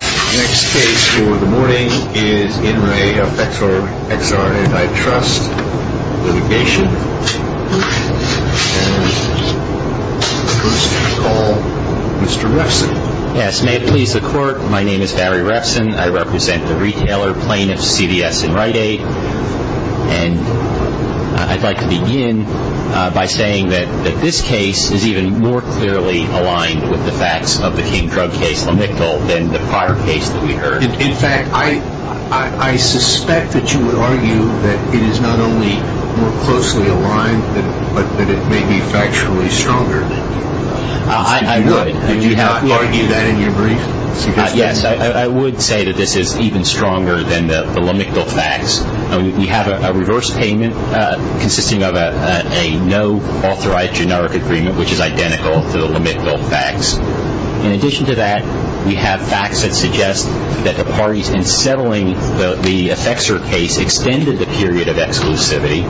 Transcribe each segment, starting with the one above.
Next case for the morning is In Re Effexor XR Antitrust Litigation and first we call Mr. Refson. Yes, may it please the court, my name is Barry Refson, I represent the retailer plaintiffs CVS and Rite-Aid and I'd like to begin by saying that this case is even more clearly aligned with the facts of the King drug case, than the prior case that we heard. In fact, I suspect that you would argue that it is not only more closely aligned, but that it may be factually stronger. I would. Did you not argue that in your brief? Yes, I would say that this is even stronger than the lamictal facts. We have a reverse payment consisting of a no-authorized generic agreement, which is identical to the lamictal facts. In addition to that, we have facts that suggest that the parties in settling the Effexor case extended the period of exclusivity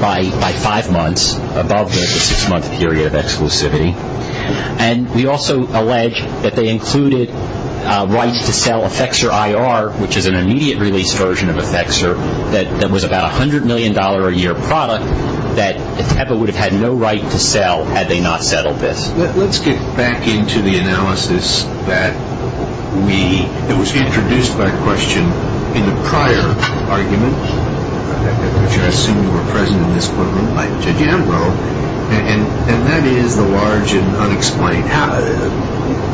by five months, above the six-month period of exclusivity. And we also allege that they included rights to sell Effexor IR, which is an immediate release version of Effexor, that was about a $100 million a year product, that Effexor would have had no right to sell had they not settled this. Let's get back into the analysis that was introduced by question in the prior argument, which I assume you were present in this courtroom, Judge Ambrose, and that is the large and unexplained.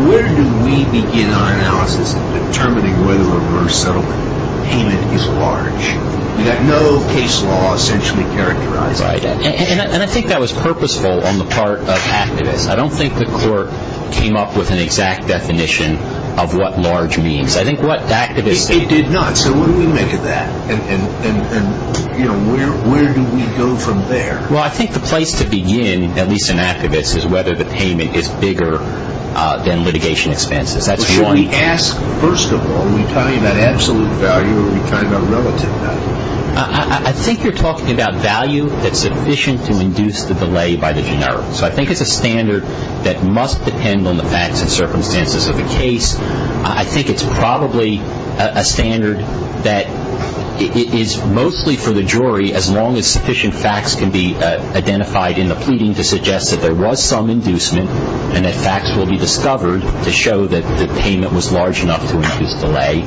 Where do we begin our analysis in determining whether a reverse settlement payment is large? We have no case law essentially characterized by that. And I think that was purposeful on the part of activists. I don't think the court came up with an exact definition of what large means. It did not, so what do we make of that? And where do we go from there? Well, I think the place to begin, at least in activists, is whether the payment is bigger than litigation expenses. That's one. Should we ask, first of all, are we talking about absolute value or are we talking about relative value? I think you're talking about value that's sufficient to induce the delay by the general. So I think it's a standard that must depend on the facts and circumstances of the case. I think it's probably a standard that is mostly for the jury, as long as sufficient facts can be identified in the pleading to suggest that there was some inducement and that facts will be discovered to show that the payment was large enough to induce delay.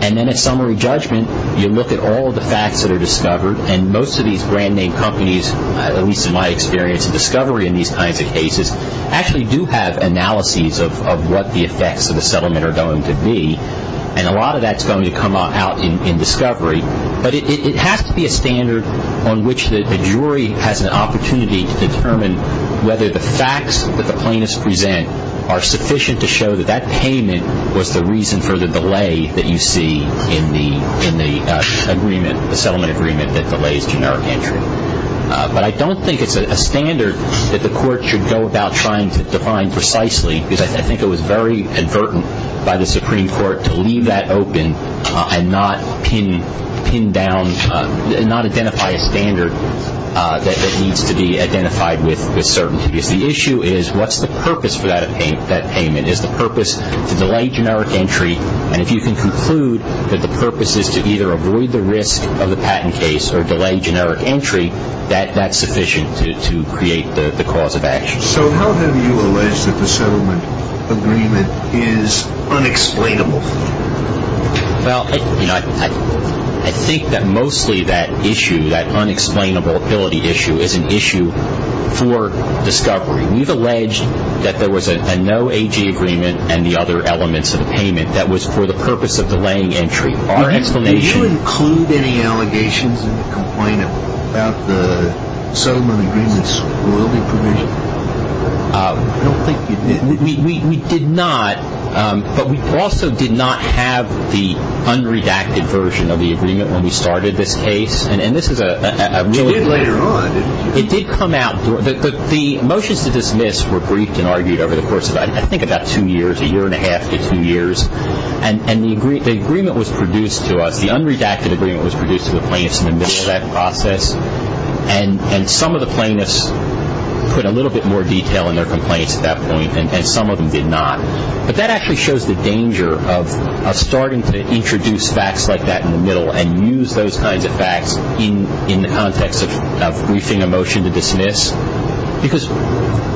And then at summary judgment, you look at all the facts that are discovered, and most of these brand-name companies, at least in my experience in discovery in these kinds of cases, actually do have analyses of what the effects of the settlement are going to be, and a lot of that's going to come out in discovery. But it has to be a standard on which the jury has an opportunity to determine whether the facts that the plaintiffs present are sufficient to show that that payment was the reason for the delay that you see in the settlement agreement that delays generic entry. But I don't think it's a standard that the court should go about trying to define precisely, because I think it was very advertent by the Supreme Court to leave that open and not identify a standard that needs to be identified with certainty. Because the issue is, what's the purpose for that payment? Is the purpose to delay generic entry? And if you can conclude that the purpose is to either avoid the risk of the patent case or delay generic entry, that's sufficient to create the cause of action. So how have you alleged that the settlement agreement is unexplainable? Well, I think that mostly that issue, that unexplainability issue, is an issue for discovery. We've alleged that there was a no AG agreement and the other elements of the payment that was for the purpose of delaying entry. Do you include any allegations in the complaint about the settlement agreement's royalty provision? I don't think you did. We did not, but we also did not have the unredacted version of the agreement when we started this case. Which you did later on, didn't you? The motions to dismiss were briefed and argued over the course of I think about two years, a year and a half to two years, and the agreement was produced to us. The unredacted agreement was produced to the plaintiffs in the middle of that process, and some of the plaintiffs put a little bit more detail in their complaints at that point and some of them did not. But that actually shows the danger of starting to introduce facts like that in the middle and use those kinds of facts in the context of briefing a motion to dismiss. Because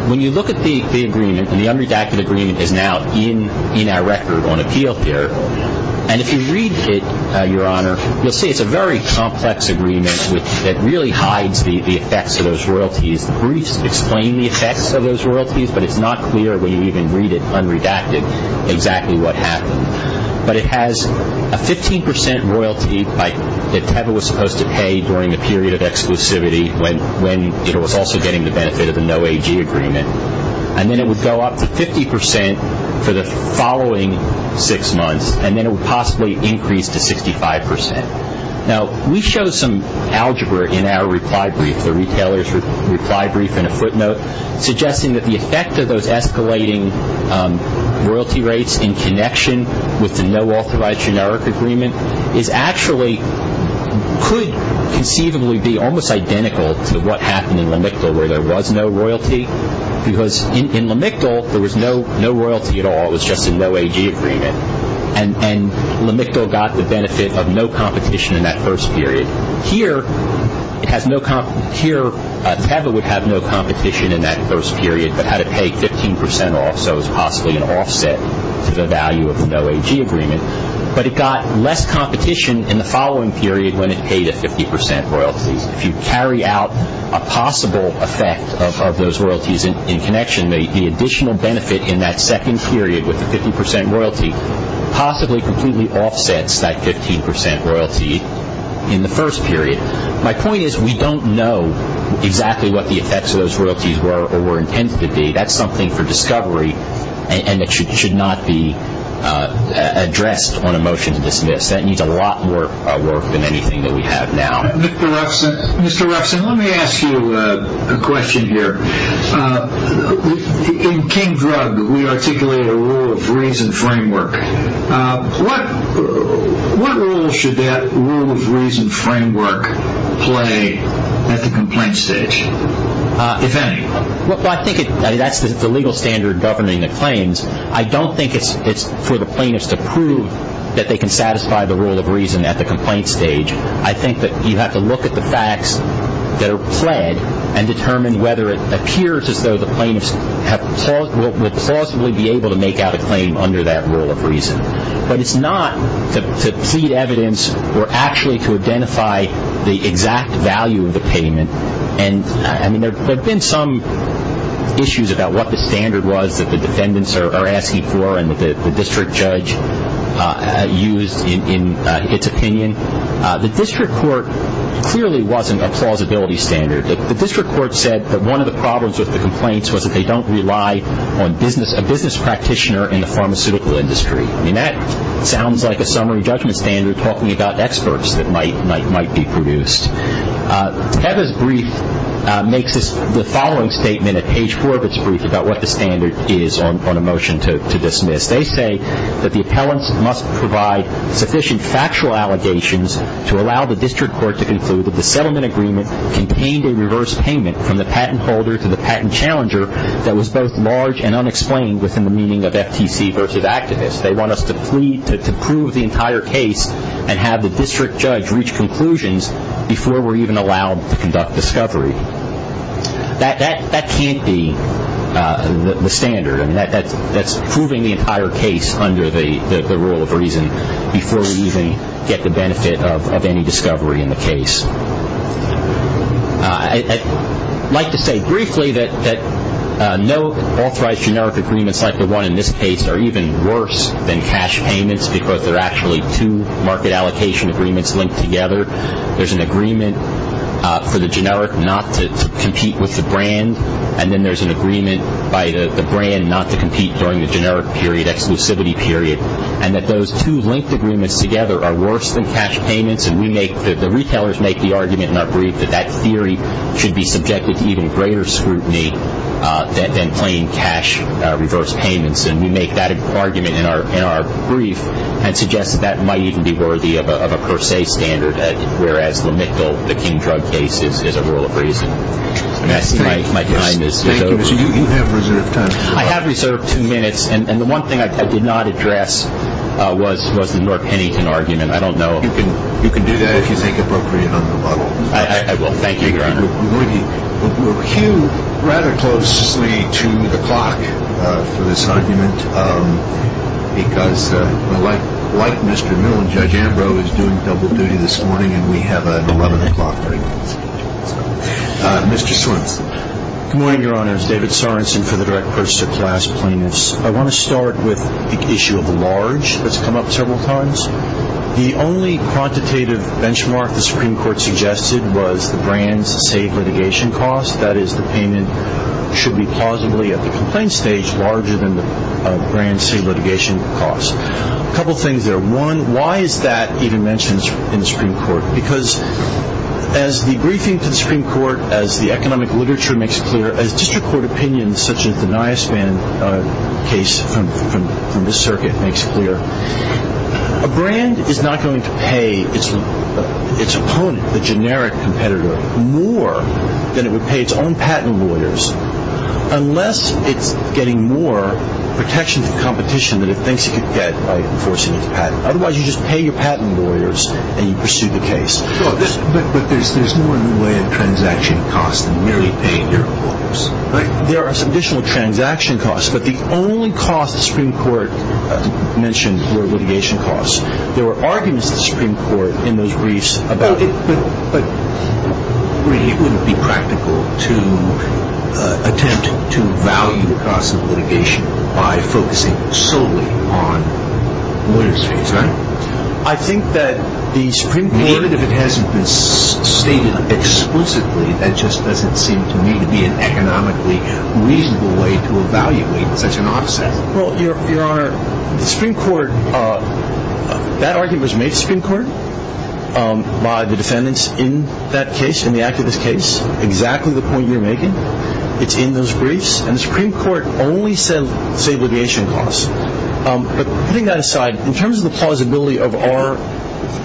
when you look at the agreement, and the unredacted agreement is now in our record on appeal here, and if you read it, Your Honor, you'll see it's a very complex agreement that really hides the effects of those royalties. The briefs explain the effects of those royalties, but it's not clear when you even read it unredacted exactly what happened. But it has a 15% royalty that Teva was supposed to pay during the period of exclusivity when it was also getting the benefit of the no AG agreement, and then it would go up to 50% for the following six months, and then it would possibly increase to 65%. Now, we show some algebra in our reply brief, the retailer's reply brief in a footnote, suggesting that the effect of those escalating royalty rates in connection with the no authorized generic agreement could conceivably be almost identical to what happened in Lamictal where there was no royalty. Because in Lamictal, there was no royalty at all. It was just a no AG agreement. And Lamictal got the benefit of no competition in that first period. Here, Teva would have no competition in that first period, but had it paid 15% off, so it was possibly an offset to the value of the no AG agreement. But it got less competition in the following period when it paid a 50% royalty. If you carry out a possible effect of those royalties in connection, the additional benefit in that second period with the 50% royalty possibly completely offsets that 15% royalty in the first period. My point is we don't know exactly what the effects of those royalties were or were intended to be. That's something for discovery, and it should not be addressed on a motion to dismiss. That needs a lot more work than anything that we have now. Mr. Ruffeson, let me ask you a question here. In King Drug, we articulate a rule of reason framework. What role should that rule of reason framework play at the complaint stage, if any? I think that's the legal standard governing the claims. I don't think it's for the plaintiffs to prove that they can satisfy the rule of reason at the complaint stage. I think that you have to look at the facts that are pled and determine whether it appears as though the plaintiffs will plausibly be able to make out a claim under that rule of reason. But it's not to plead evidence or actually to identify the exact value of the payment. There have been some issues about what the standard was that the defendants are asking for and the district judge used in its opinion. The district court clearly wasn't a plausibility standard. The district court said that one of the problems with the complaints was that they don't rely on a business practitioner in the pharmaceutical industry. I mean, that sounds like a summary judgment standard talking about experts that might be produced. Heather's brief makes the following statement at page four of its brief about what the standard is on a motion to dismiss. They say that the appellants must provide sufficient factual allegations to allow the district court to conclude that the settlement agreement contained a reverse payment from the patent holder to the patent challenger that was both large and unexplained within the meaning of FTC versus activist. They want us to plead to prove the entire case and have the district judge reach conclusions before we're even allowed to conduct discovery. That can't be the standard. I mean, that's proving the entire case under the rule of reason before we even get the benefit of any discovery in the case. I'd like to say briefly that no authorized generic agreements like the one in this case are even worse than cash payments because they're actually two market allocation agreements linked together. There's an agreement for the generic not to compete with the brand and then there's an agreement by the brand not to compete during the generic period, exclusivity period, and that those two linked agreements together are worse than cash payments. And the retailers make the argument in our brief that that theory should be subjected to even greater scrutiny than plain cash reverse payments. And we make that argument in our brief and suggest that that might even be worthy of a per se standard, whereas the King drug case is a rule of reason. I see my time is over. Thank you. You have reserved time. I have reserved two minutes. And the one thing I did not address was the North Pennington argument. I don't know if you can do that if you think appropriate on the model. I will. Thank you, Your Honor. We'll cue rather closely to the clock for this argument because like Mr. Miller, Judge Ambrose is doing double duty this morning and we have an 11 o'clock break. Mr. Swenson. Good morning, Your Honors. David Sorensen for the Direct Purchase of Class Plaintiffs. I want to start with the issue of the large that's come up several times. The only quantitative benchmark the Supreme Court suggested was the brand's safe litigation cost, that is the payment should be plausibly, at the complaint stage, larger than the brand's safe litigation cost. A couple things there. One, why is that even mentioned in the Supreme Court? Because as the briefing to the Supreme Court, as the economic literature makes clear, as district court opinions such as the NISVAN case from this circuit makes clear, a brand is not going to pay its opponent, the generic competitor, more than it would pay its own patent lawyers unless it's getting more protection from competition than it thinks it could get by enforcing its patent. Otherwise, you just pay your patent lawyers and you pursue the case. But there's more in the way of transaction costs than merely paying your lawyers, right? There are some additional transaction costs, but the only costs the Supreme Court mentioned were litigation costs. But it wouldn't be practical to attempt to value the cost of litigation by focusing solely on lawyers' fees, right? I think that the Supreme Court... Even if it hasn't been stated explicitly, that just doesn't seem to me to be an economically reasonable way to evaluate such an offset. Well, Your Honor, the Supreme Court... The defendants in that case, in the activist case, exactly the point you're making. It's in those briefs, and the Supreme Court only said litigation costs. But putting that aside, in terms of the plausibility of our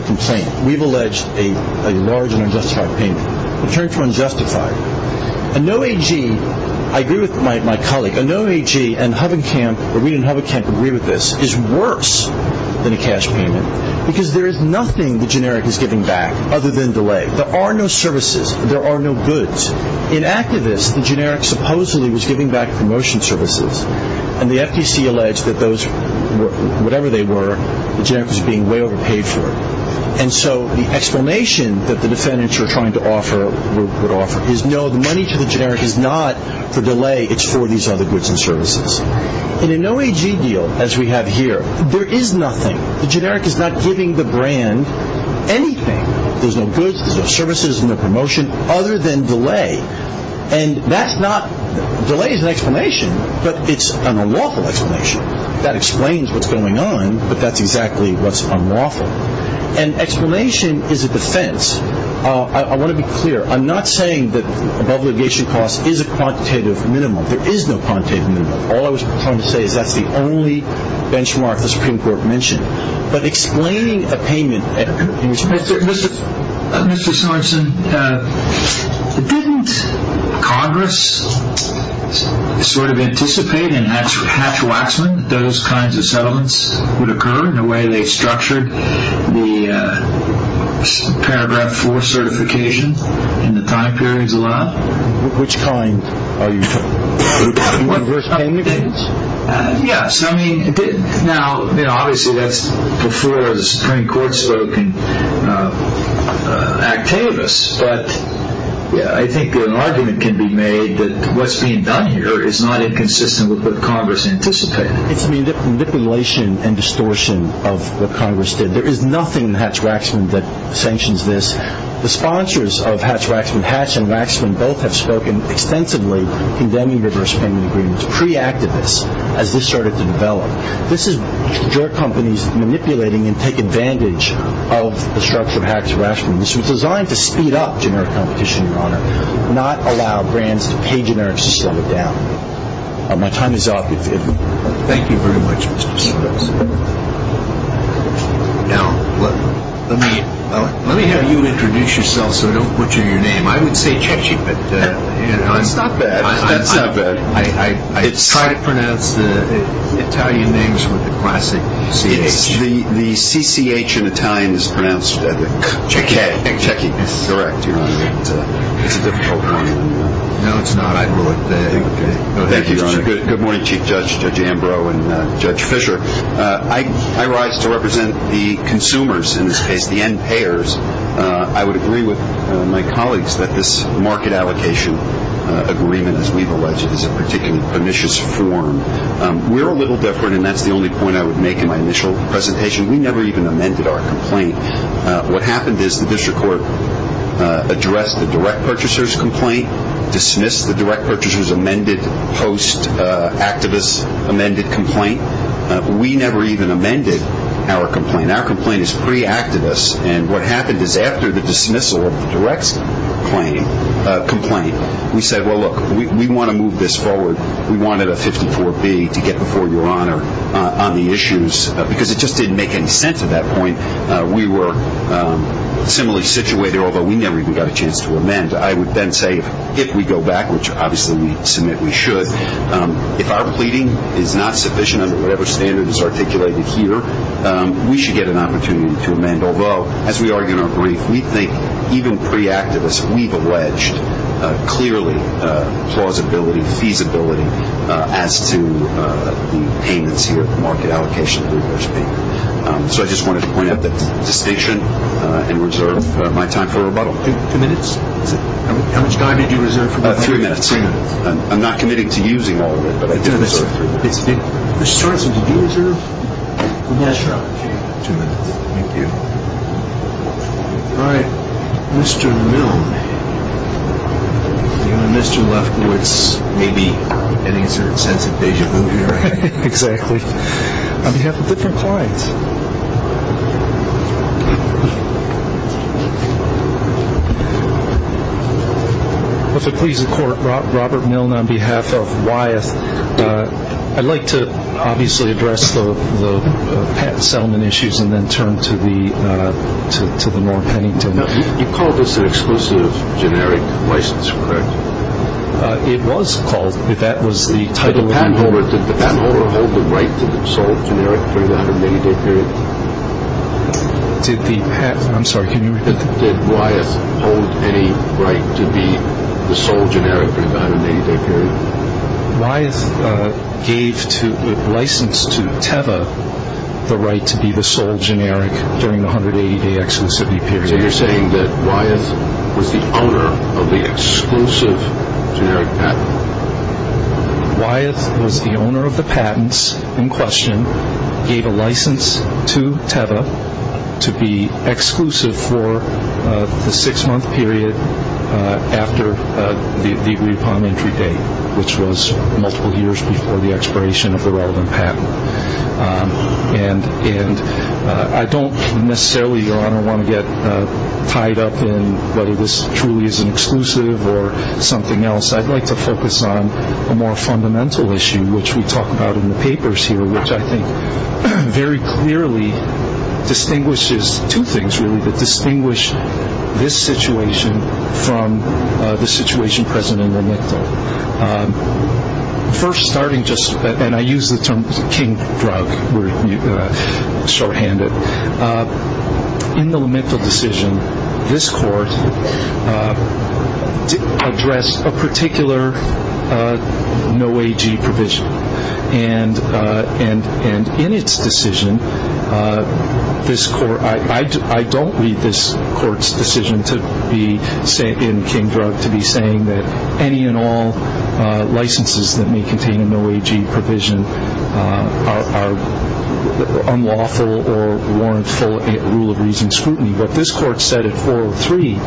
complaint, we've alleged a large and unjustified payment. In terms of unjustified, a no AG... I agree with my colleague. A no AG and Hub and Camp, or we in Hub and Camp agree with this, is worse than a cash payment, because there is nothing the generic is giving back other than delay. There are no services. There are no goods. In activist, the generic supposedly was giving back promotion services, and the FTC alleged that those, whatever they were, the generic was being way overpaid for. And so the explanation that the defendants were trying to offer, would offer, is no, the money to the generic is not for delay, it's for these other goods and services. In a no AG deal, as we have here, there is nothing. The generic is not giving the brand anything. There's no goods, there's no services, no promotion, other than delay. And that's not... delay is an explanation, but it's an unlawful explanation. That explains what's going on, but that's exactly what's unlawful. And explanation is a defense. I want to be clear. I'm not saying that above litigation costs is a quantitative minimum. There is no quantitative minimum. All I was trying to say is that's the only benchmark the Supreme Court mentioned. But explaining a payment... Mr. Sorensen, didn't Congress sort of anticipate in Hatch-Waxman that those kinds of settlements would occur in the way they structured the paragraph 4 certification in the time periods allowed? Which kind are you talking about? Yes, I mean... Now, obviously that's before the Supreme Court spoke and actuated us, but I think an argument can be made that what's being done here is not inconsistent with what Congress anticipated. It's manipulation and distortion of what Congress did. There is nothing in Hatch-Waxman that sanctions this. The sponsors of Hatch-Waxman, Hatch and Waxman, both have spoken extensively condemning reverse payment agreements pre-activists as this started to develop. This is your companies manipulating and taking advantage of the structure of Hatch-Waxman. This was designed to speed up generic competition, Your Honor, not allow brands to pay generics to slow it down. My time is up. Thank you very much, Mr. Sorensen. Now, let me have you introduce yourself so I don't butcher your name. I would say Chechi, but... That's not bad. I try to pronounce the Italian names with the classic C-H. The C-C-H in Italian is pronounced Cheki. It's a difficult one. No, it's not. Thank you, Your Honor. Good morning, Chief Judge, Judge Ambrose, and Judge Fischer. I rise to represent the consumers in this case, the end payers. I would agree with my colleagues that this market allocation agreement, as we've alleged, is a particularly pernicious form. We're a little different, and that's the only point I would make in my initial presentation. We never even amended our complaint. What happened is the district court addressed the direct purchaser's complaint, dismissed the direct purchaser's amended post-activist amended complaint. We never even amended our complaint. Our complaint is pre-activist, and what happened is after the dismissal of the direct's complaint, we said, well, look, we want to move this forward. We wanted a 54B to get before Your Honor on the issues because it just didn't make any sense at that point. We were similarly situated, although we never even got a chance to amend. I would then say if we go back, which obviously we submit we should, if our pleading is not sufficient under whatever standard is articulated here, we should get an opportunity to amend. Although, as we argue in our brief, we think even pre-activist, we've alleged clearly plausibility, feasibility as to the payments here, market allocation, so to speak. So I just wanted to point out that distinction and reserve my time for rebuttal. Two minutes? How much time did you reserve for rebuttal? Three minutes. I'm not committing to using all of it, but I did reserve three minutes. Ms. Johnson, did you reserve? Yes, Your Honor. Okay, two minutes. Thank you. All right. Mr. Milne. Even Mr. Lefkowitz may be getting a certain sense of deja vu here. Exactly. On behalf of different clients. If it pleases the Court, Robert Milne on behalf of Wyeth. I'd like to obviously address the patent settlement issues and then turn to the Norm Pennington. You called this an exclusive generic license, correct? It was called. If that was the title. Did the patent holder hold the right to the sole generic during the 180-day period? I'm sorry, can you repeat that? Did Wyeth hold any right to be the sole generic during the 180-day period? Wyeth gave license to Teva the right to be the sole generic during the 180-day exclusivity period. So you're saying that Wyeth was the owner of the exclusive generic patent? Wyeth was the owner of the patents in question, gave a license to Teva to be exclusive for the six-month period after the agreed upon entry date, which was multiple years before the expiration of the relevant patent. And I don't necessarily, Your Honor, want to get tied up in whether this truly is an exclusive or something else. I'd like to focus on a more fundamental issue, which we talk about in the papers here, which I think very clearly distinguishes two things, really, that distinguish this situation from the situation present in the L'Amicto. First, starting just, and I use the term king drug, shorthand it. In the L'Amicto decision, this Court addressed a particular no AG provision. And in its decision, I don't read this Court's decision in king drug to be saying that any and all licenses that may contain a no AG provision are unlawful or warrant for a rule of reason scrutiny. What this Court said at 403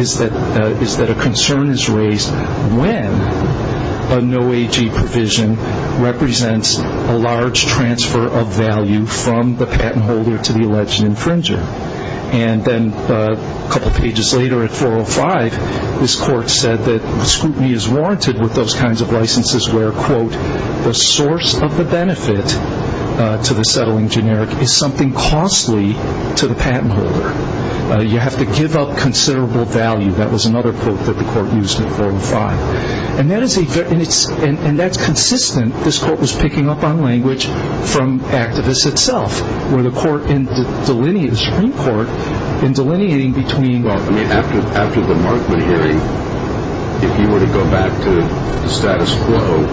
is that a concern is raised when a no AG provision represents a large transfer of value from the patent holder to the alleged infringer. And then a couple pages later at 405, this Court said that scrutiny is warranted with those kinds of licenses where, quote, the source of the benefit to the settling generic is something costly to the patent holder. You have to give up considerable value. That was another quote that the Court used in 405. And that's consistent, this Court was picking up on language from activists itself, where the Supreme Court, in delineating between... I mean, after the Markman hearing, if you were to go back to the status quo,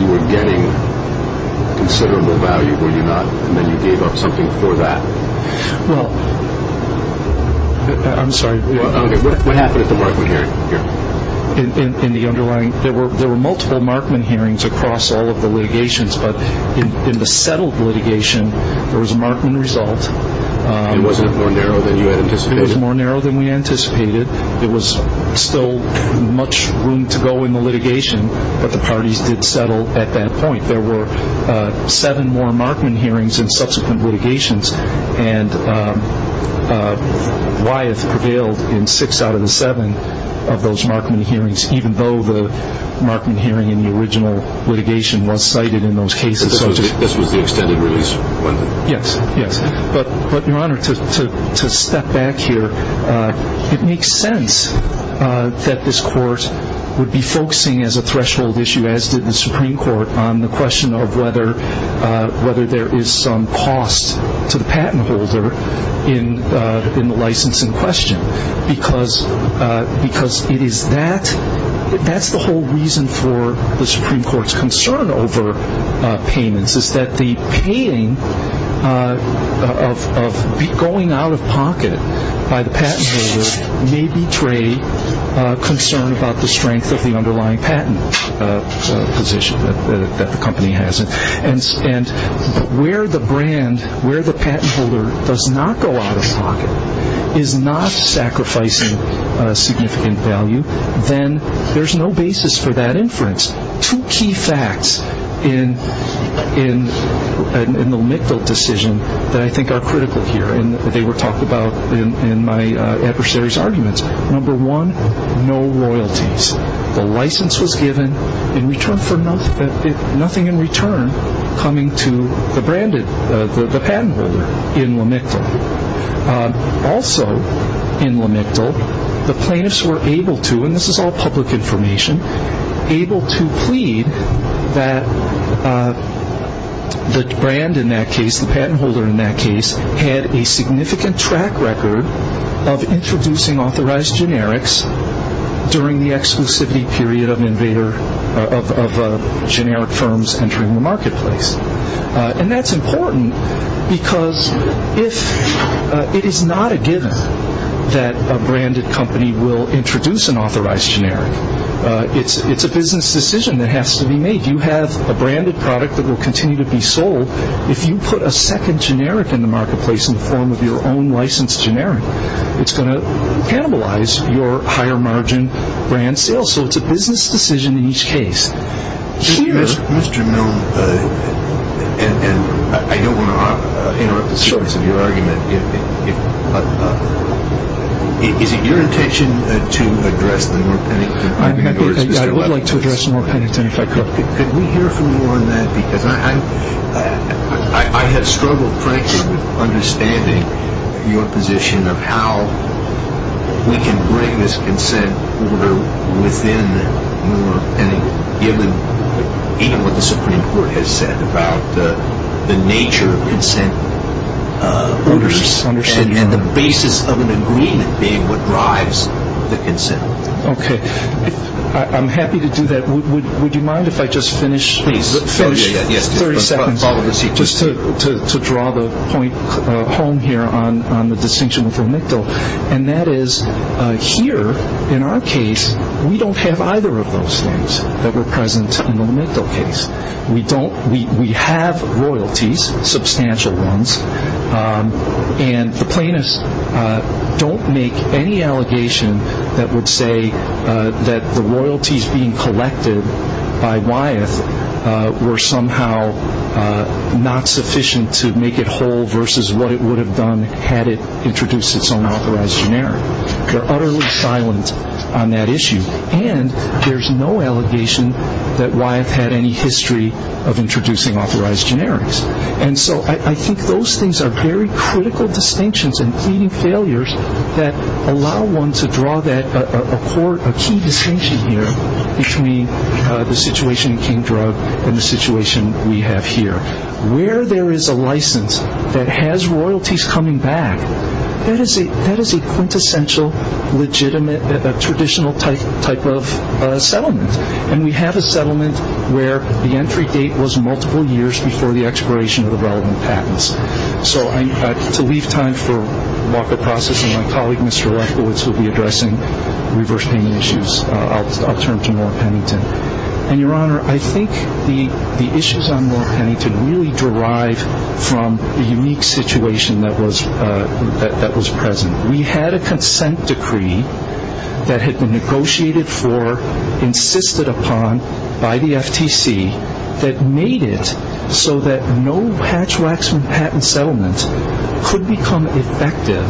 you were getting considerable value, were you not? And then you gave up something for that. Well, I'm sorry. Okay, what happened at the Markman hearing? In the underlying, there were multiple Markman hearings across all of the litigations, but in the settled litigation, there was a Markman result. It wasn't more narrow than you had anticipated? It was more narrow than we anticipated. There was still much room to go in the litigation, but the parties did settle at that point. There were seven more Markman hearings in subsequent litigations, and Wyeth prevailed in six out of the seven of those Markman hearings, even though the Markman hearing in the original litigation was cited in those cases. This was the extended release one thing? Yes, yes. But, Your Honor, to step back here, it makes sense that this Court would be focusing as a threshold issue, as did the Supreme Court, on the question of whether there is some cost to the patent holder in the license in question, because that's the whole reason for the Supreme Court's concern over payments, is that the paying of going out of pocket by the patent holder may betray concern about the strength of the underlying patent position that the company has. And where the brand, where the patent holder does not go out of pocket, is not sacrificing significant value, then there's no basis for that inference. There's two key facts in the Lamictal decision that I think are critical here, and they were talked about in my adversary's arguments. Number one, no royalties. The license was given in return for nothing in return coming to the patent holder in Lamictal. Also in Lamictal, the plaintiffs were able to, and this is all public information, able to plead that the brand in that case, the patent holder in that case, had a significant track record of introducing authorized generics during the exclusivity period of generic firms entering the marketplace. And that's important because it is not a given that a branded company will introduce an authorized generic. It's a business decision that has to be made. You have a branded product that will continue to be sold. If you put a second generic in the marketplace in the form of your own licensed generic, it's going to cannibalize your higher margin brand sales. So it's a business decision in each case. Mr. Milne, I don't want to interrupt the sequence of your argument. Is it your intention to address the Moore-Pennington argument? I would like to address the Moore-Pennington if I could. Could we hear from you on that? Because I have struggled, frankly, with understanding your position of how we can break this consent order within the Moore-Pennington, given even what the Supreme Court has said about the nature of consent orders and the basis of an agreement being what drives the consent. Okay. I'm happy to do that. Would you mind if I just finish 30 seconds? Just to draw the point home here on the distinction with Omicdal, and that is here in our case we don't have either of those things that were present in the Omicdal case. We have royalties, substantial ones, and the plaintiffs don't make any allegation that would say that the royalties being collected by Wyeth were somehow not sufficient to make it whole versus what it would have done had it introduced its own authorized generics. They're utterly silent on that issue. And there's no allegation that Wyeth had any history of introducing authorized generics. And so I think those things are very critical distinctions and pleading failures that allow one to draw a key distinction here between the situation in King Drug and the situation we have here. Where there is a license that has royalties coming back, that is a quintessential, legitimate, traditional type of settlement. And we have a settlement where the entry date was multiple years before the expiration of the relevant patents. So to leave time for walk of process, my colleague Mr. Lefkowitz will be addressing reverse payment issues. I'll turn to Norm Pennington. And, Your Honor, I think the issues on Norm Pennington really derive from a unique situation that was present. We had a consent decree that had been negotiated for, insisted upon by the FTC, that made it so that no hatch racks from patent settlement could become effective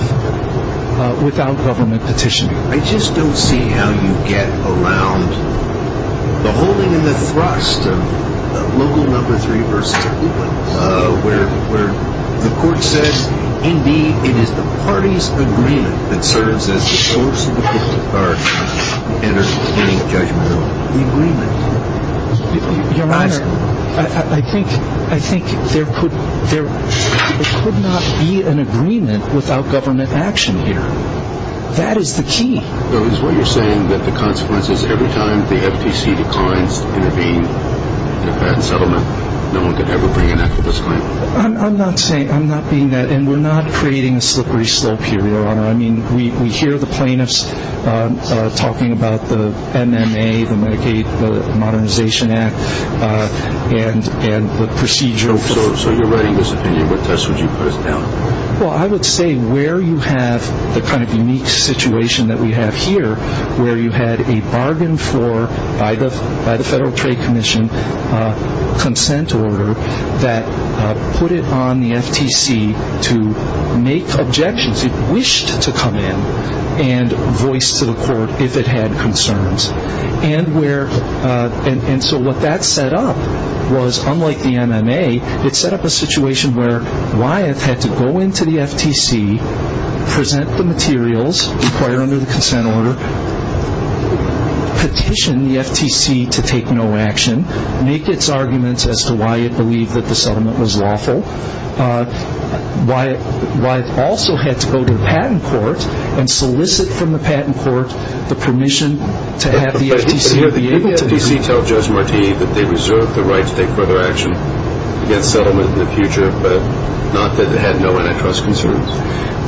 without government petitioning. I just don't see how you get around the holding and the thrust of local number three versus a coupon, where the court says, indeed, it is the party's agreement that serves as the source of the coupon, and there is no judgment of the agreement. Your Honor, I think there could not be an agreement without government action here. That is the key. So is what you're saying that the consequences, every time the FTC declines to intervene in a patent settlement, no one could ever bring an effortless claim? I'm not saying, I'm not being that, and we're not creating a slippery slope here, Your Honor. I mean, we hear the plaintiffs talking about the NMA, the Medicaid Modernization Act, and the procedure. So you're writing this opinion. What test would you put it down? Well, I would say where you have the kind of unique situation that we have here, where you had a bargain for by the Federal Trade Commission consent order that put it on the FTC to make objections. It wished to come in and voice to the court if it had concerns. And so what that set up was, unlike the NMA, it set up a situation where Wyeth had to go into the FTC, present the materials required under the consent order, petition the FTC to take no action, make its arguments as to why it believed that the settlement was lawful. Wyeth also had to go to the patent court and solicit from the patent court the permission to have the FTC be able to do so. But here the FTC tells Judge Marti that they reserve the right to take further action against settlement in the future, but not that it had no antitrust concerns.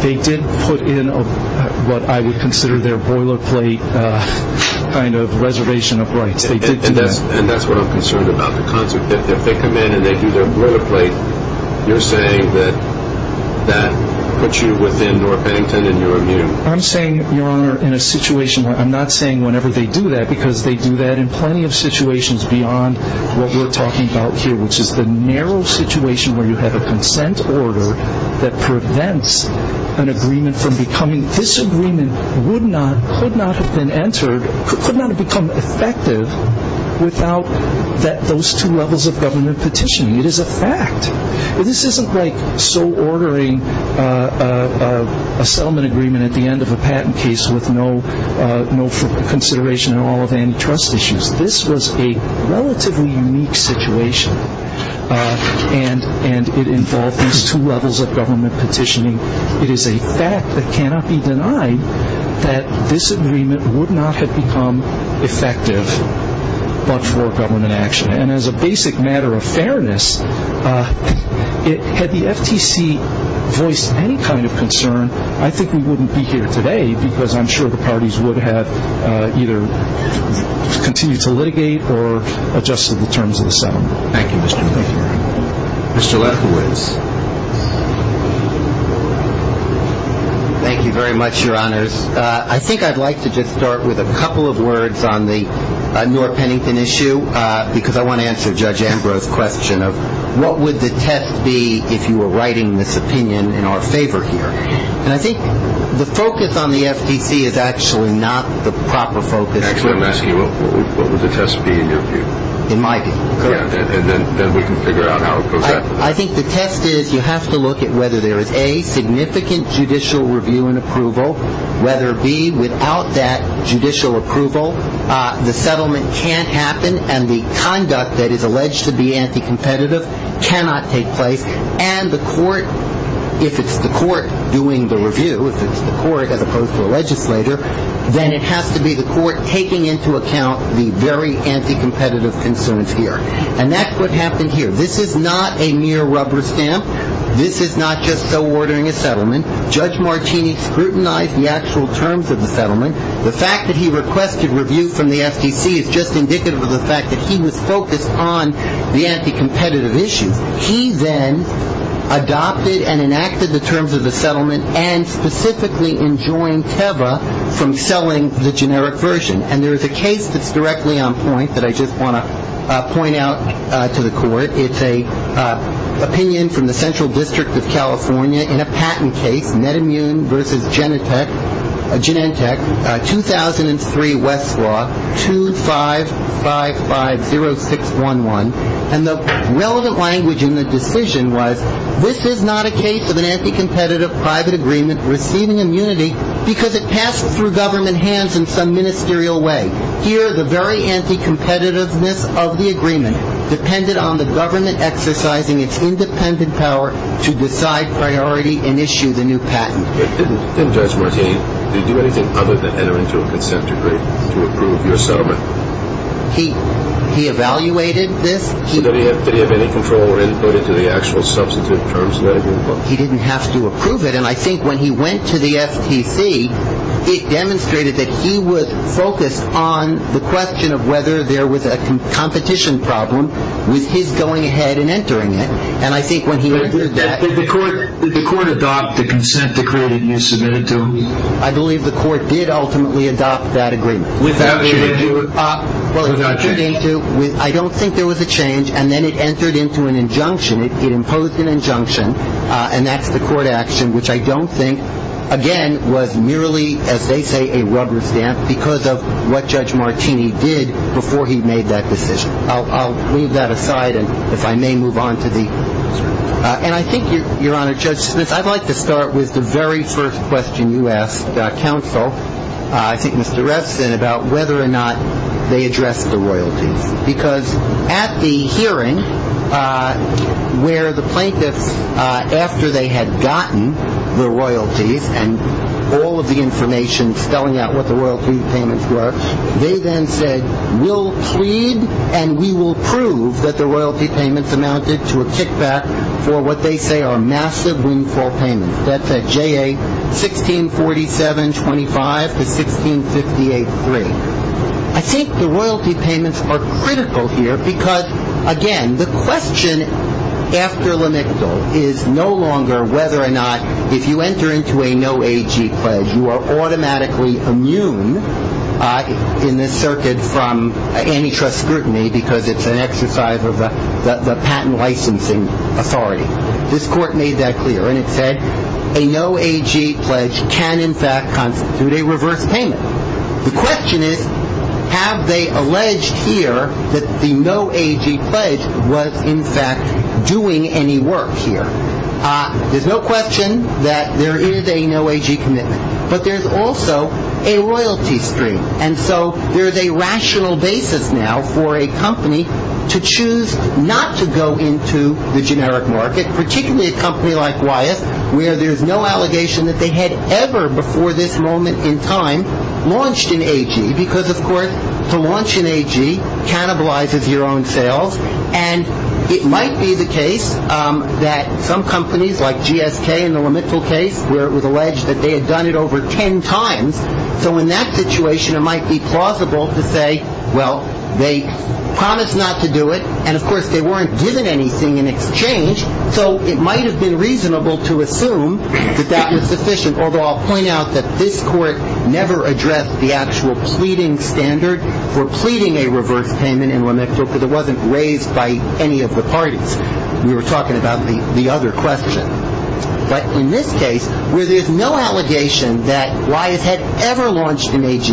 They did put in what I would consider their boilerplate kind of reservation of rights. And that's what I'm concerned about. If they come in and they do their boilerplate, you're saying that that puts you within North Bennington in your view? I'm saying, Your Honor, in a situation where I'm not saying whenever they do that, because they do that in plenty of situations beyond what we're talking about here, which is the narrow situation where you have a consent order that prevents an agreement from becoming, I mean, this agreement would not, could not have been entered, could not have become effective without those two levels of government petitioning. It is a fact. This isn't like so ordering a settlement agreement at the end of a patent case with no consideration at all of antitrust issues. This was a relatively unique situation, and it involved these two levels of government petitioning. It is a fact that cannot be denied that this agreement would not have become effective but for government action. And as a basic matter of fairness, had the FTC voiced any kind of concern, I think we wouldn't be here today because I'm sure the parties would have either continued to litigate or adjusted the terms of the settlement. Thank you, Mr. Newman. Thank you, Your Honor. Thank you very much, Your Honors. I think I'd like to just start with a couple of words on the Newark-Pennington issue, because I want to answer Judge Ambrose's question of what would the test be if you were writing this opinion in our favor here. And I think the focus on the FTC is actually not the proper focus. Actually, I'm asking you, what would the test be in your view? In my view. And then we can figure out how it goes after that. I think the test is you have to look at whether there is, A, significant judicial review and approval, whether, B, without that judicial approval, the settlement can't happen and the conduct that is alleged to be anti-competitive cannot take place. And the court, if it's the court doing the review, if it's the court as opposed to a legislator, then it has to be the court taking into account the very anti-competitive concerns here. And that's what happened here. This is not a mere rubber stamp. This is not just so ordering a settlement. Judge Martini scrutinized the actual terms of the settlement. The fact that he requested review from the FTC is just indicative of the fact that he was focused on the anti-competitive issues. He then adopted and enacted the terms of the settlement and specifically enjoined Teva from selling the generic version. And there is a case that's directly on point that I just want to point out to the court. It's an opinion from the Central District of California in a patent case, Net Immune v. Genentech, 2003, Westlaw, 25550611. And the relevant language in the decision was, this is not a case of an anti-competitive private agreement receiving immunity because it passed through government hands in some ministerial way. Here, the very anti-competitiveness of the agreement depended on the government exercising its independent power to decide priority and issue the new patent. But didn't Judge Martini do anything other than enter into a consent decree to approve your settlement? He evaluated this. Did he have any control or input into the actual substantive terms of the agreement? He didn't have to approve it. And I think when he went to the FTC, it demonstrated that he was focused on the question of whether there was a competition problem with his going ahead and entering it. And I think when he did that – Did the court adopt the consent decree that you submitted to him? I believe the court did ultimately adopt that agreement. Without change? Without change. I don't think there was a change. And then it entered into an injunction. It imposed an injunction, and that's the court action, which I don't think, again, was merely, as they say, a rubber stamp because of what Judge Martini did before he made that decision. I'll leave that aside, and if I may move on to the – And I think, Your Honor, Judge Smith, I'd like to start with the very first question you asked counsel, I think Mr. Refson, about whether or not they addressed the royalties. Because at the hearing where the plaintiffs, after they had gotten the royalties and all of the information spelling out what the royalty payments were, they then said, We'll plead and we will prove that the royalty payments amounted to a kickback for what they say are massive windfall payments. That's at JA 1647.25 to 1658.3. I think the royalty payments are critical here because, again, the question after L'Amical is no longer whether or not if you enter into a no AG pledge you are automatically immune in this circuit from antitrust scrutiny because it's an exercise of the patent licensing authority. This court made that clear, and it said, A no AG pledge can, in fact, constitute a reverse payment. The question is, have they alleged here that the no AG pledge was, in fact, doing any work here? There's no question that there is a no AG commitment. But there's also a royalty stream. And so there's a rational basis now for a company to choose not to go into the generic market, particularly a company like Wyeth, where there's no allegation that they had ever before this moment in time launched an AG because, of course, to launch an AG cannibalizes your own sales. And it might be the case that some companies like GSK in the L'Amical case where it was alleged that they had done it over ten times. So in that situation, it might be plausible to say, well, they promised not to do it. And, of course, they weren't given anything in exchange. So it might have been reasonable to assume that that was sufficient, although I'll point out that this court never addressed the actual pleading standard for pleading a reverse payment in L'Amical because it wasn't raised by any of the parties. We were talking about the other question. But in this case, where there's no allegation that Wyeth had ever launched an AG,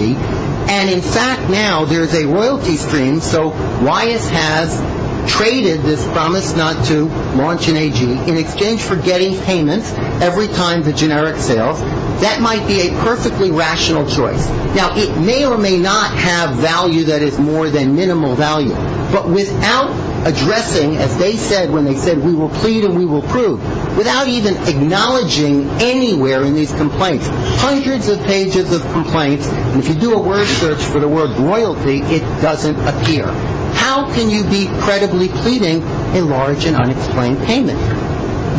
and, in fact, now there's a royalty stream, so Wyeth has traded this promise not to launch an AG in exchange for getting payments every time the generic sales, that might be a perfectly rational choice. Now, it may or may not have value that is more than minimal value. But without addressing, as they said when they said we will plead and we will prove, without even acknowledging anywhere in these complaints, hundreds of pages of complaints, and if you do a word search for the word royalty, it doesn't appear. How can you be credibly pleading a large and unexplained payment?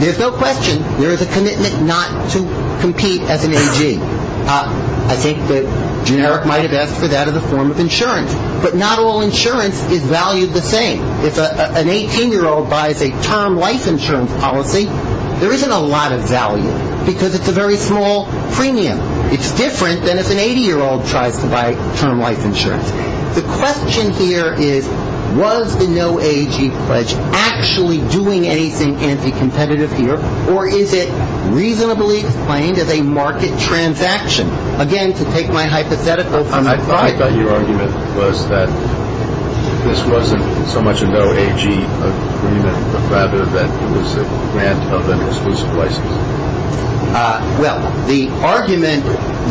There's no question there is a commitment not to compete as an AG. I think the generic might have asked for that as a form of insurance. But not all insurance is valued the same. If an 18-year-old buys a term life insurance policy, there isn't a lot of value because it's a very small premium. It's different than if an 80-year-old tries to buy term life insurance. The question here is, was the no AG pledge actually doing anything anti-competitive here, or is it reasonably explained as a market transaction? Again, to take my hypothetical from the client... I thought your argument was that this wasn't so much a no AG agreement, but rather that it was a grant of an exclusive license. Well, the argument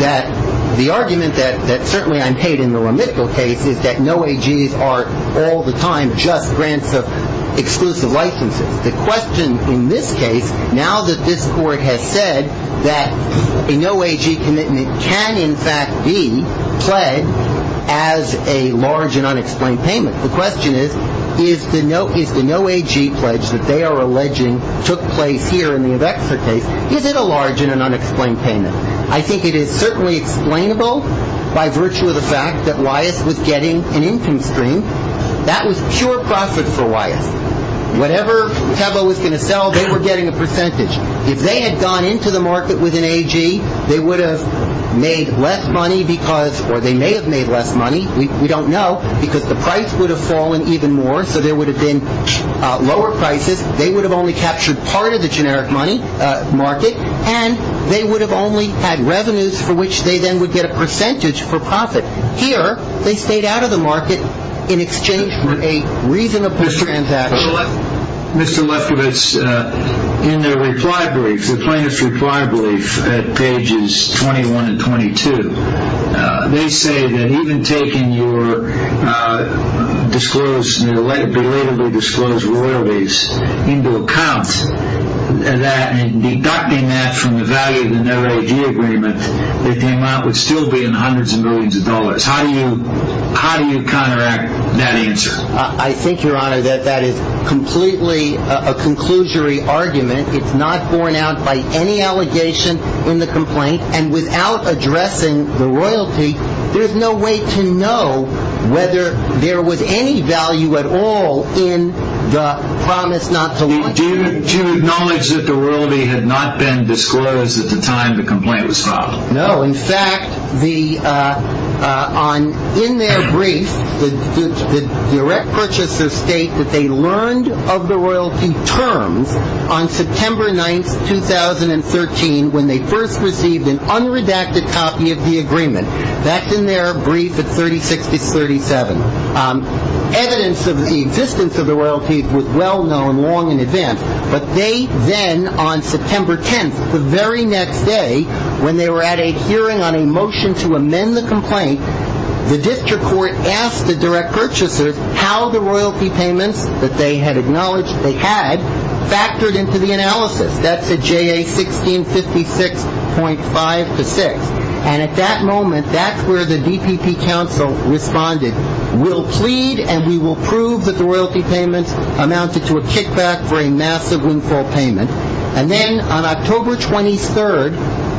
that certainly I'm paid in the remittal case is that no AGs are all the time just grants of exclusive licenses. The question in this case, now that this court has said that a no AG commitment can in fact be pledged as a large and unexplained payment, the question is, is the no AG pledge that they are alleging took place here in the Avexa case, is it a large and an unexplained payment? I think it is certainly explainable by virtue of the fact that Wyeth was getting an income stream. That was pure profit for Wyeth. Whatever Tebo was going to sell, they were getting a percentage. If they had gone into the market with an AG, they would have made less money because, or they may have made less money, we don't know, because the price would have fallen even more, so there would have been lower prices, they would have only captured part of the generic money market, and they would have only had revenues for which they then would get a percentage for profit. Here, they stayed out of the market in exchange for a reasonable transaction. Mr. Lefkowitz, in their reply brief, the plaintiff's reply brief at pages 21 and 22, they say that even taking your belatedly disclosed royalties into account and deducting that from the value of the no AG agreement, the amount would still be in hundreds of millions of dollars. How do you counteract that answer? I think, Your Honor, that that is completely a conclusory argument. It's not borne out by any allegation in the complaint, and without addressing the royalty, there's no way to know whether there was any value at all in the promise not to launch it. Do you acknowledge that the royalty had not been disclosed at the time the complaint was filed? No. In fact, in their brief, the direct purchasers state that they learned of the royalty terms on September 9, 2013, when they first received an unredacted copy of the agreement. That's in their brief at 3060-37. Evidence of the existence of the royalties was well known, long in advance, but they then, on September 10, the very next day, when they were at a hearing on a motion to amend the complaint, the district court asked the direct purchasers how the royalty payments that they had acknowledged they had factored into the analysis. That's at JA 1656.5-6. And at that moment, that's where the DPP counsel responded, we'll plead and we will prove that the royalty payments amounted to a kickback for a massive windfall payment. And then on October 23,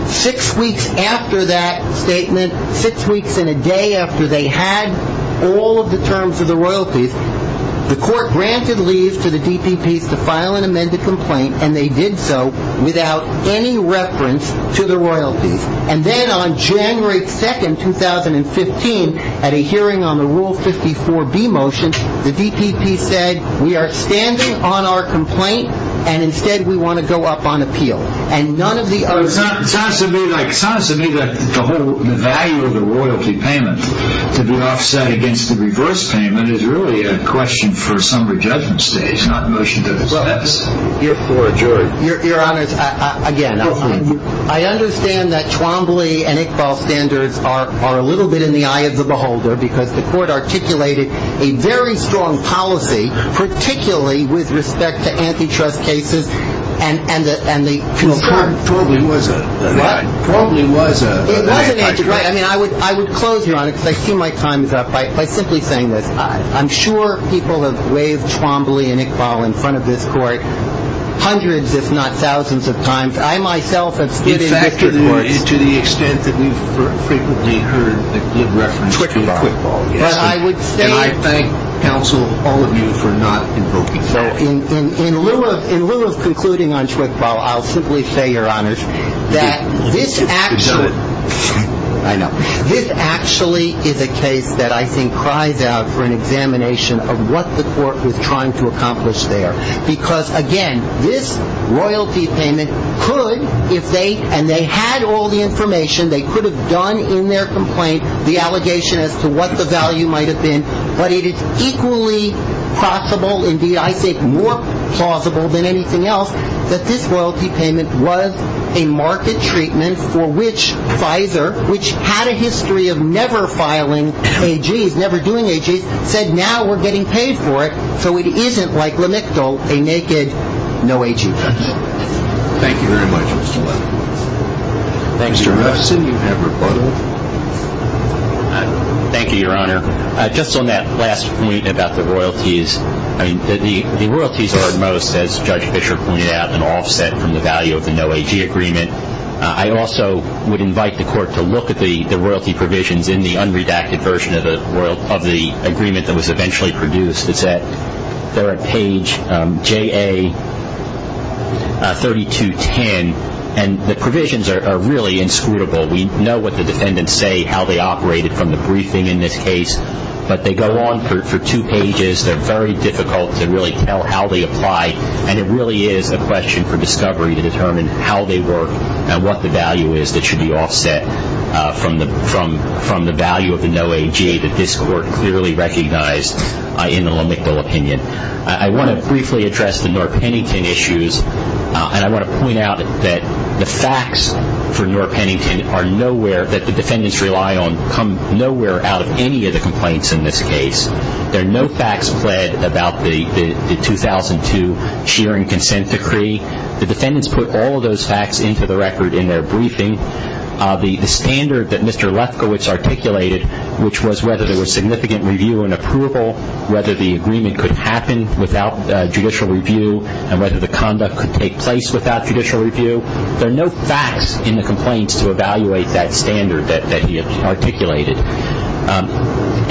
six weeks after that statement, six weeks and a day after they had all of the terms of the royalties, the court granted leave to the DPPs to file an amended complaint, and they did so without any reference to the royalties. And then on January 2, 2015, at a hearing on the Rule 54B motion, the DPP said, we are standing on our complaint, and instead we want to go up on appeal. And none of the other... It sounds to me like the whole value of the royalty payment to be offset against the reverse payment is really a question for a summary judgment stage, not a motion to dismiss. Your Honor, again, I understand that Twombly and Iqbal standards are a little bit in the eye of the beholder, because the court articulated a very strong policy, particularly with respect to antitrust cases and the concern... Twombly was a... It wasn't antitrust. I mean, I would close, Your Honor, because I see my time is up, by simply saying this. I'm sure people have waved Twombly and Iqbal in front of this Court hundreds, if not thousands of times. I myself have stood in this Court... In fact, Your Honor, to the extent that we've frequently heard the good reference to Iqbal. But I would say... And I thank counsel, all of you, for not invoking that. In lieu of concluding on Twombly, I'll simply say, Your Honor, that this actually... I know. This actually is a case that I think cries out for an examination of what the Court was trying to accomplish there. Because, again, this royalty payment could, if they... And they had all the information they could have done in their complaint, the allegation as to what the value might have been. But it is equally possible. Indeed, I say more plausible than anything else, that this royalty payment was a market treatment for which Pfizer, which had a history of never filing AGs, never doing AGs, said, now we're getting paid for it. So it isn't, like Lamictal, a naked no AG case. Thank you. Thank you very much, Mr. Levin. Mr. Hudson, you have rebuttal. Thank you, Your Honor. Just on that last point about the royalties, I mean, the royalties are, at most, as Judge Fischer pointed out, an offset from the value of the no AG agreement. I also would invite the Court to look at the royalty provisions in the unredacted version of the agreement that was eventually produced. It's at third page, JA 3210. And the provisions are really inscrutable. We know what the defendants say, how they operated from the briefing in this case. But they go on for two pages. They're very difficult to really tell how they apply. And it really is a question for discovery to determine how they work and what the value is that should be offset from the value of the no AG that this Court clearly recognized in the Lamictal opinion. I want to briefly address the North Pennington issues. And I want to point out that the facts for North Pennington are nowhere that the defendants rely on come nowhere out of any of the complaints in this case. There are no facts pled about the 2002 Shearing Consent Decree. The defendants put all of those facts into the record in their briefing. The standard that Mr. Lefkowitz articulated, which was whether there was significant review and approval, whether the agreement could happen without judicial review, and whether the conduct could take place without judicial review. There are no facts in the complaints to evaluate that standard that he articulated.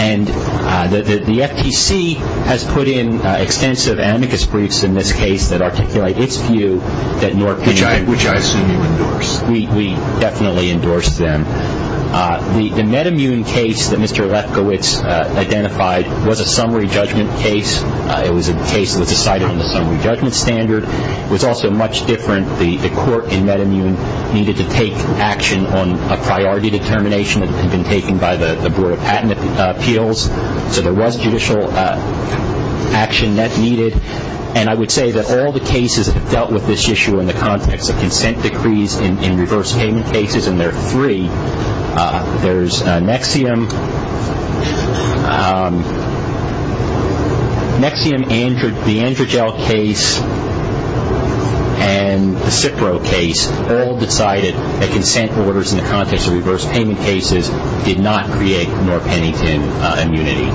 And the FTC has put in extensive amicus briefs in this case that articulate its view that North Pennington Which I assume you endorse. We definitely endorse them. The MedImmune case that Mr. Lefkowitz identified was a summary judgment case. It was a case that was decided on the summary judgment standard. It was also much different. The court in MedImmune needed to take action on a priority determination that had been taken by the Board of Patent Appeals. So there was judicial action that needed. And I would say that all the cases that have dealt with this issue in the context of consent decrees in reverse payment cases, and there are three. There's Nexium, the Androgel case, and the Cipro case, all decided that consent orders in the context of reverse payment cases did not create North Pennington immunity.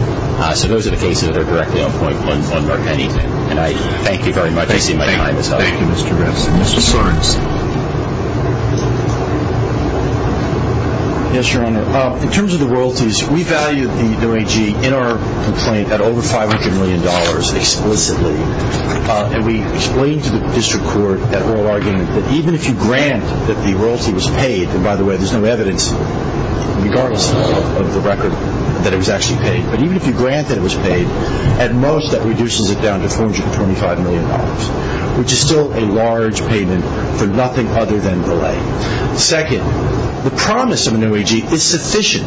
So those are the cases that are directly on point on North Pennington. And I thank you very much. I see my time is up. Thank you, Mr. Ress. Mr. Sorensen. Yes, Your Honor. In terms of the royalties, we valued the OIG in our complaint at over $500 million explicitly. And we explained to the district court that oral argument that even if you grant that the royalty was paid, and by the way, there's no evidence, regardless of the record, that it was actually paid, but even if you grant that it was paid, at most that reduces it down to $425 million, which is still a large payment for nothing other than delay. Second, the promise of an OIG is sufficient.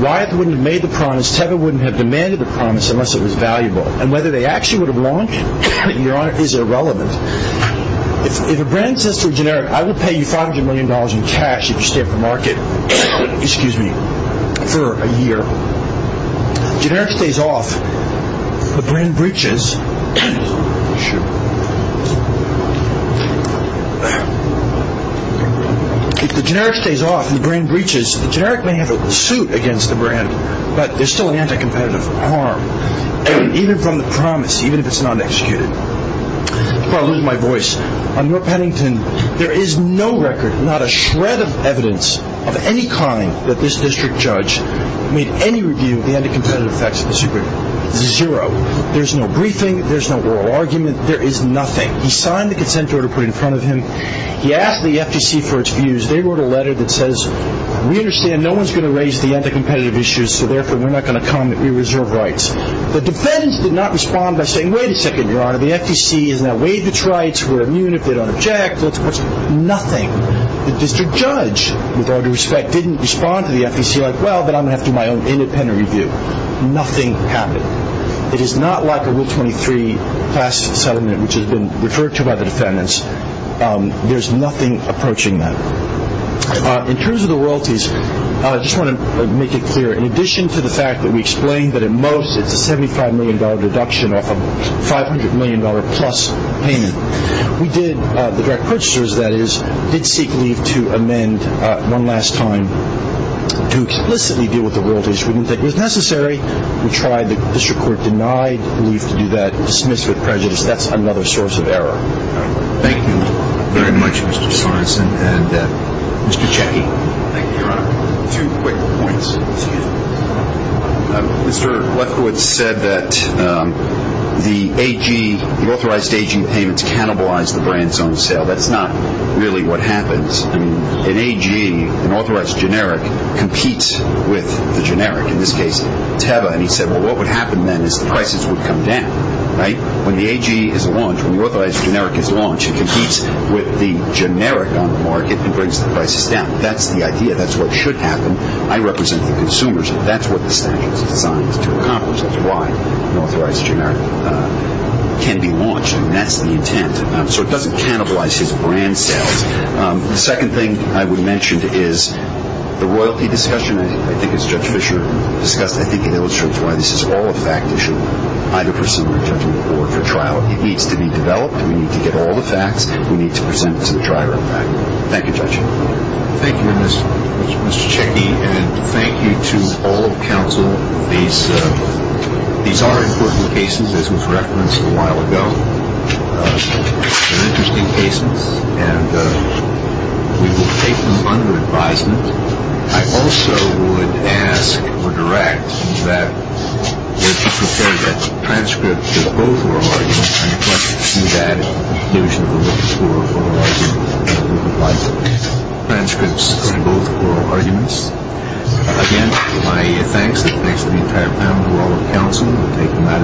Wyeth wouldn't have made the promise. Teva wouldn't have demanded the promise unless it was valuable. And whether they actually would have launched, Your Honor, is irrelevant. If a brand says to a generic, I will pay you $500 million in cash if you stay off the market for a year. Generic stays off. If the brand breaches, if the generic stays off and the brand breaches, the generic may have a suit against the brand, but there's still an anti-competitive harm, even from the promise, even if it's not executed. I'm about to lose my voice. Under Pennington, there is no record, not a shred of evidence of any kind, that this district judge made any review of the anti-competitive effects of this agreement. Zero. There's no briefing. There's no oral argument. There is nothing. He signed the consent order put in front of him. He asked the FTC for its views. They wrote a letter that says, we understand no one's going to raise the anti-competitive issues, so therefore we're not going to comment. We reserve rights. The defendants did not respond by saying, wait a second, Your Honor, the FTC has not waived its rights. We're immune if they don't object. Nothing. The district judge, with all due respect, didn't respond to the FTC like, well, but I'm going to have to do my own independent review. Nothing happened. It is not like a Rule 23 class settlement, which has been referred to by the defendants. There's nothing approaching that. In terms of the royalties, I just want to make it clear, in addition to the fact that we explained that at most it's a $75 million deduction off a $500 million plus payment, we did, the direct purchasers, that is, did seek leave to amend one last time to explicitly deal with the royalties. We didn't think it was necessary. We tried. The district court denied leave to do that. Dismissed with prejudice. That's another source of error. Thank you very much, Mr. Sorensen. Mr. Checky. Thank you, Your Honor. Two quick points. Mr. Lefkowitz said that the authorized AG payments cannibalize the brand's own sale. That's not really what happens. An AG, an authorized generic, competes with the generic, in this case Teva, and he said, well, what would happen then is the prices would come down, right? When the AG is launched, when the authorized generic is launched, it competes with the generic on the market and brings the prices down. That's the idea. That's what should happen. I represent the consumers. That's what the statute is designed to accomplish. That's why an authorized generic can be launched, and that's the intent. So it doesn't cannibalize his brand sales. The second thing I would mention is the royalty discussion, I think, as Judge Fischer discussed, I think it illustrates why this is all a fact issue, either for summary judgment or for trial. It needs to be developed. We need to get all the facts. We need to present it to the trier of fact. Thank you, Judge. Thank you, Mr. Checky, and thank you to all the counsel. These are important cases, as was referenced a while ago. They're interesting cases, and we will take them under advisement. I also would ask or direct that we should prepare that transcript for the overargument and that we should provide transcripts for both oral arguments. Again, my thanks to the entire panel and all the counsel who have taken matters into their own hands.